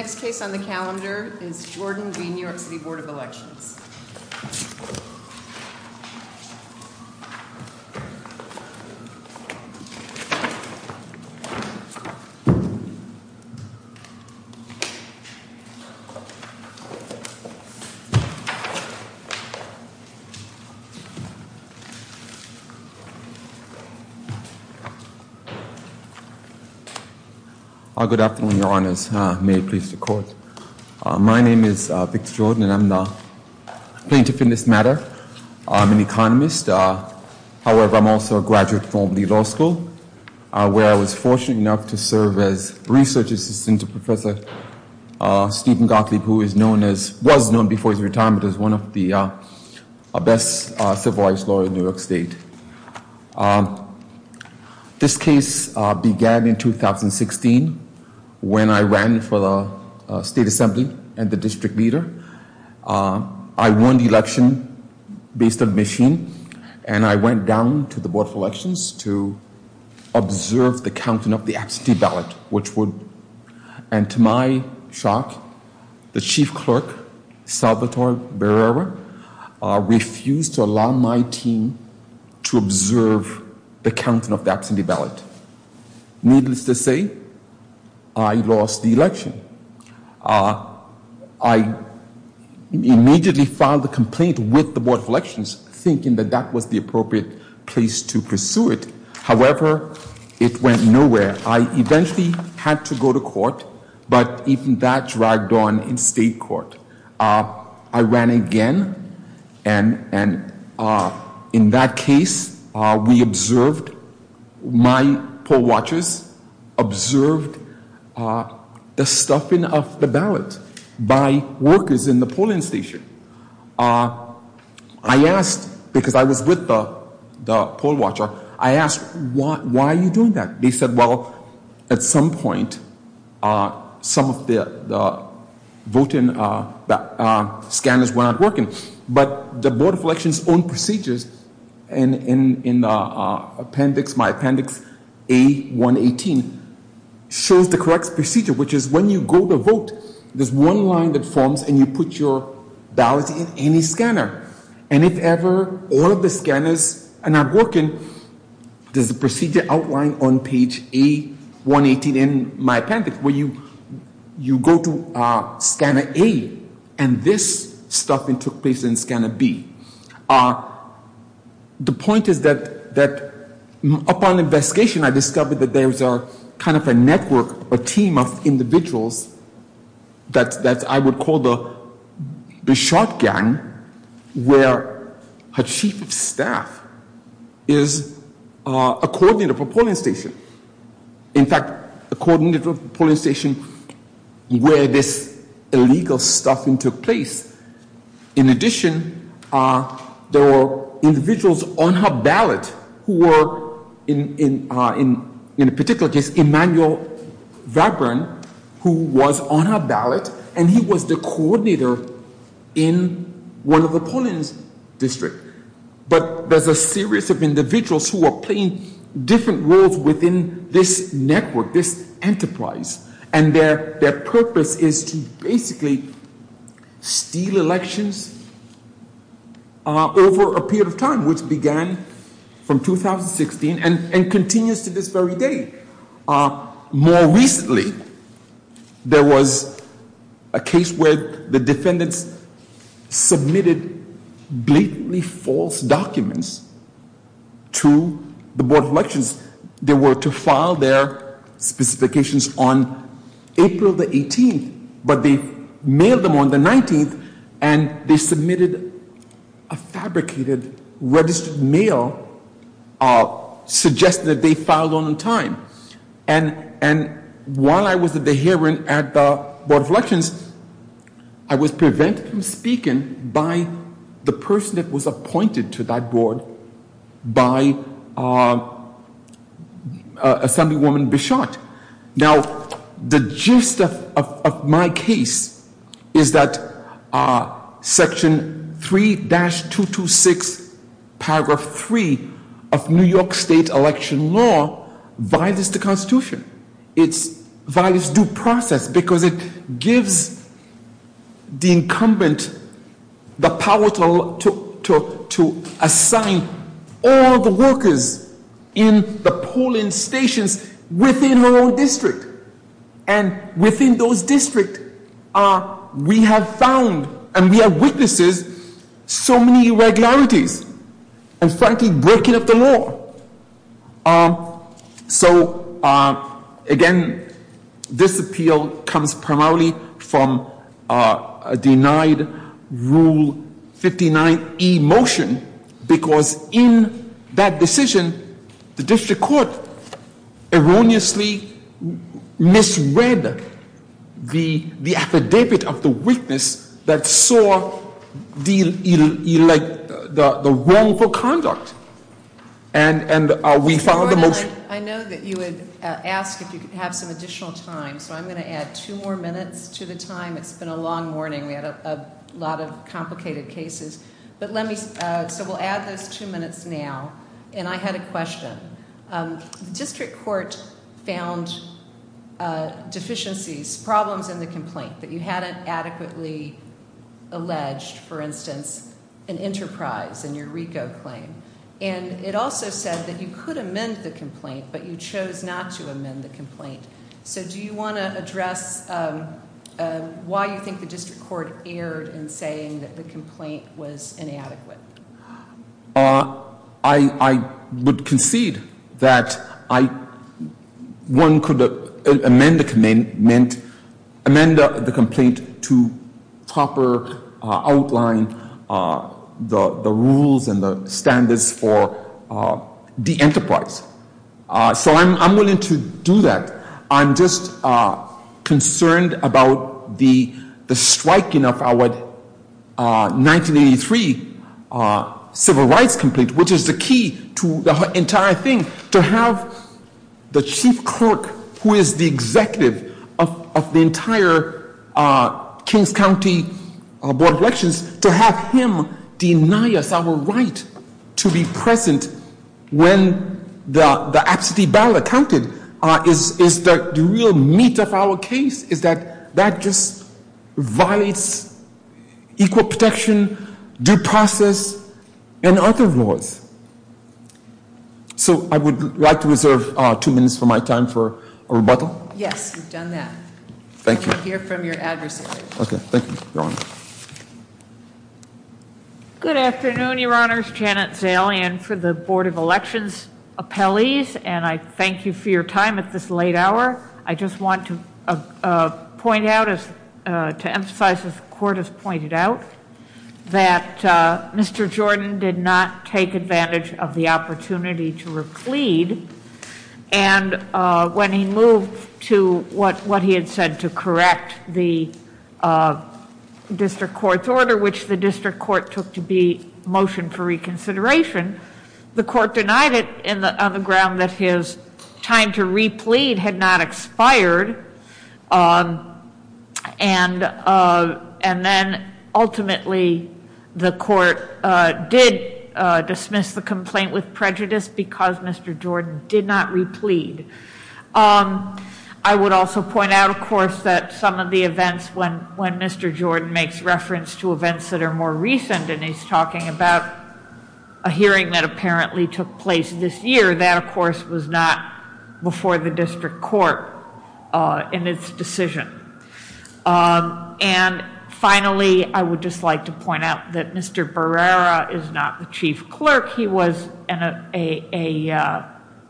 The next case on the calendar is Jordan v. New York City Board of Elections. Good afternoon, your honors. May it please the court. My name is Victor Jordan and I'm the plaintiff in this matter. I'm an economist. However, I'm also a graduate from the law school where I was fortunate enough to serve as research assistant to Professor Stephen Gottlieb, who was known before his retirement as one of the best civil rights lawyers in New York State. This case began in 2016 when I ran for the state assembly and the district leader. I won the election based on machine and I went down to the Board of Elections to observe the counting of the absentee ballot, which would, and to my shock, the chief clerk, Salvatore Barrera, refused to allow my team to observe the counting of the absentee ballot. Needless to say, I lost the election. I immediately filed a complaint with the Board of Elections thinking that that was the appropriate place to pursue it. However, it went nowhere. I eventually had to go to court, but even that dragged on in state court. I ran again and in that case we observed, my poll watchers observed the stuffing of the ballot by workers in the polling station. I asked, because I was with the poll watcher, I asked, why are you doing that? They said, well, at some point some of the voting scanners were not working. But the Board of Elections' own procedures in my appendix A118 shows the correct procedure, which is when you go to vote, there's one line that forms and you put your ballot in any scanner. And if ever all of the scanners are not working, there's a procedure outlined on page A118 in my appendix where you go to scanner A and this stuffing took place in scanner B. The point is that upon investigation I discovered that there's kind of a network, a team of individuals that I would call the shotgun, where a chief of staff is a coordinator of a polling station. In fact, a coordinator of a polling station where this illegal stuffing took place. In addition, there were individuals on her ballot who were, in a particular case, Emmanuel Vabron, who was on her ballot and he was the coordinator in one of the polling districts. But there's a series of individuals who are playing different roles within this network, this enterprise. And their purpose is to basically steal elections over a period of time, which began from 2016 and continues to this very day. More recently, there was a case where the defendants submitted blatantly false documents to the Board of Elections. They were to file their specifications on April the 18th, but they mailed them on the 19th, and they submitted a fabricated registered mail suggesting that they filed on time. And while I was at the hearing at the Board of Elections, I was prevented from speaking by the person that was appointed to that board, by Assemblywoman Bichotte. Now, the gist of my case is that Section 3-226, Paragraph 3 of New York State Election Law violates the Constitution. It violates due process because it gives the incumbent the power to assign all the workers in the polling stations within her own district. And within those districts, we have found and we have witnessed so many irregularities and, frankly, breaking up the law. So, again, this appeal comes primarily from a denied Rule 59e motion because in that decision, the district court erroneously misread the affidavit of the witness that saw the wrongful conduct. And we found the motion- Mr. Gordon, I know that you had asked if you could have some additional time, so I'm going to add two more minutes to the time. It's been a long morning. We had a lot of complicated cases. So we'll add those two minutes now. And I had a question. The district court found deficiencies, problems in the complaint that you hadn't adequately alleged, for instance, an enterprise in your RICO claim. And it also said that you could amend the complaint, but you chose not to amend the complaint. So do you want to address why you think the district court erred in saying that the complaint was inadequate? I would concede that one could amend the complaint to proper outline the rules and the standards for the enterprise. So I'm willing to do that. The absentee ballot counted is the real meat of our case is that that just violates equal protection, due process, and other laws. So I would like to reserve two minutes of my time for rebuttal. Yes, you've done that. Thank you. We can hear from your adversary. Okay, thank you, Your Honor. Good afternoon, Your Honors. Janet Zalian for the Board of Elections Appellees. And I thank you for your time at this late hour. I just want to point out, to emphasize as the court has pointed out, that Mr. Jordan did not take advantage of the opportunity to replead. And when he moved to what he had said to correct the district court's order, which the district court took to be motion for reconsideration, the court denied it on the ground that his time to replead had not expired. And then, ultimately, the court did dismiss the complaint with prejudice because Mr. Jordan did not replead. I would also point out, of course, that some of the events when Mr. Jordan makes reference to events that are more recent, and he's talking about a hearing that apparently took place this year, that, of course, was not before the district court in its decision. And finally, I would just like to point out that Mr. Barrera is not the chief clerk. He was an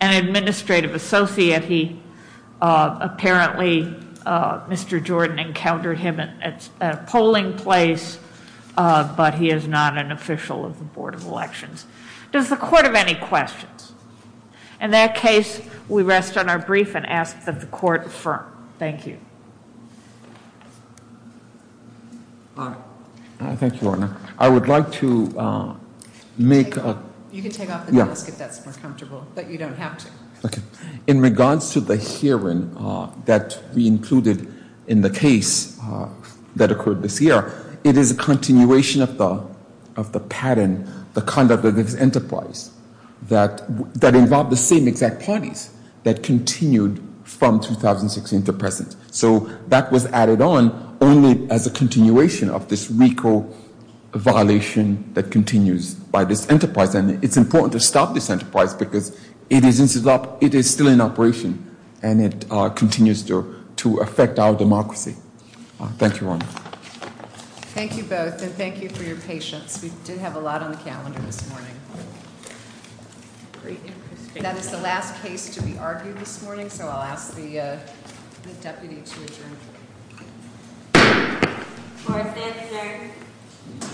administrative associate. Apparently, Mr. Jordan encountered him at a polling place, but he is not an official of the Board of Elections. Does the court have any questions? In that case, we rest on our brief and ask that the court affirm. Thank you. Thank you, Your Honor. I would like to make a- You can take off the mask if that's more comfortable, but you don't have to. Okay. In regards to the hearing that we included in the case that occurred this year, it is a continuation of the pattern, the conduct of this enterprise, that involved the same exact parties that continued from 2016 to present. So that was added on only as a continuation of this RICO violation that continues by this enterprise. And it's important to stop this enterprise because it is still in operation, and it continues to affect our democracy. Thank you, Your Honor. Thank you both, and thank you for your patience. We did have a lot on the calendar this morning. That is the last case to be argued this morning, so I'll ask the deputy to adjourn. Court is adjourned.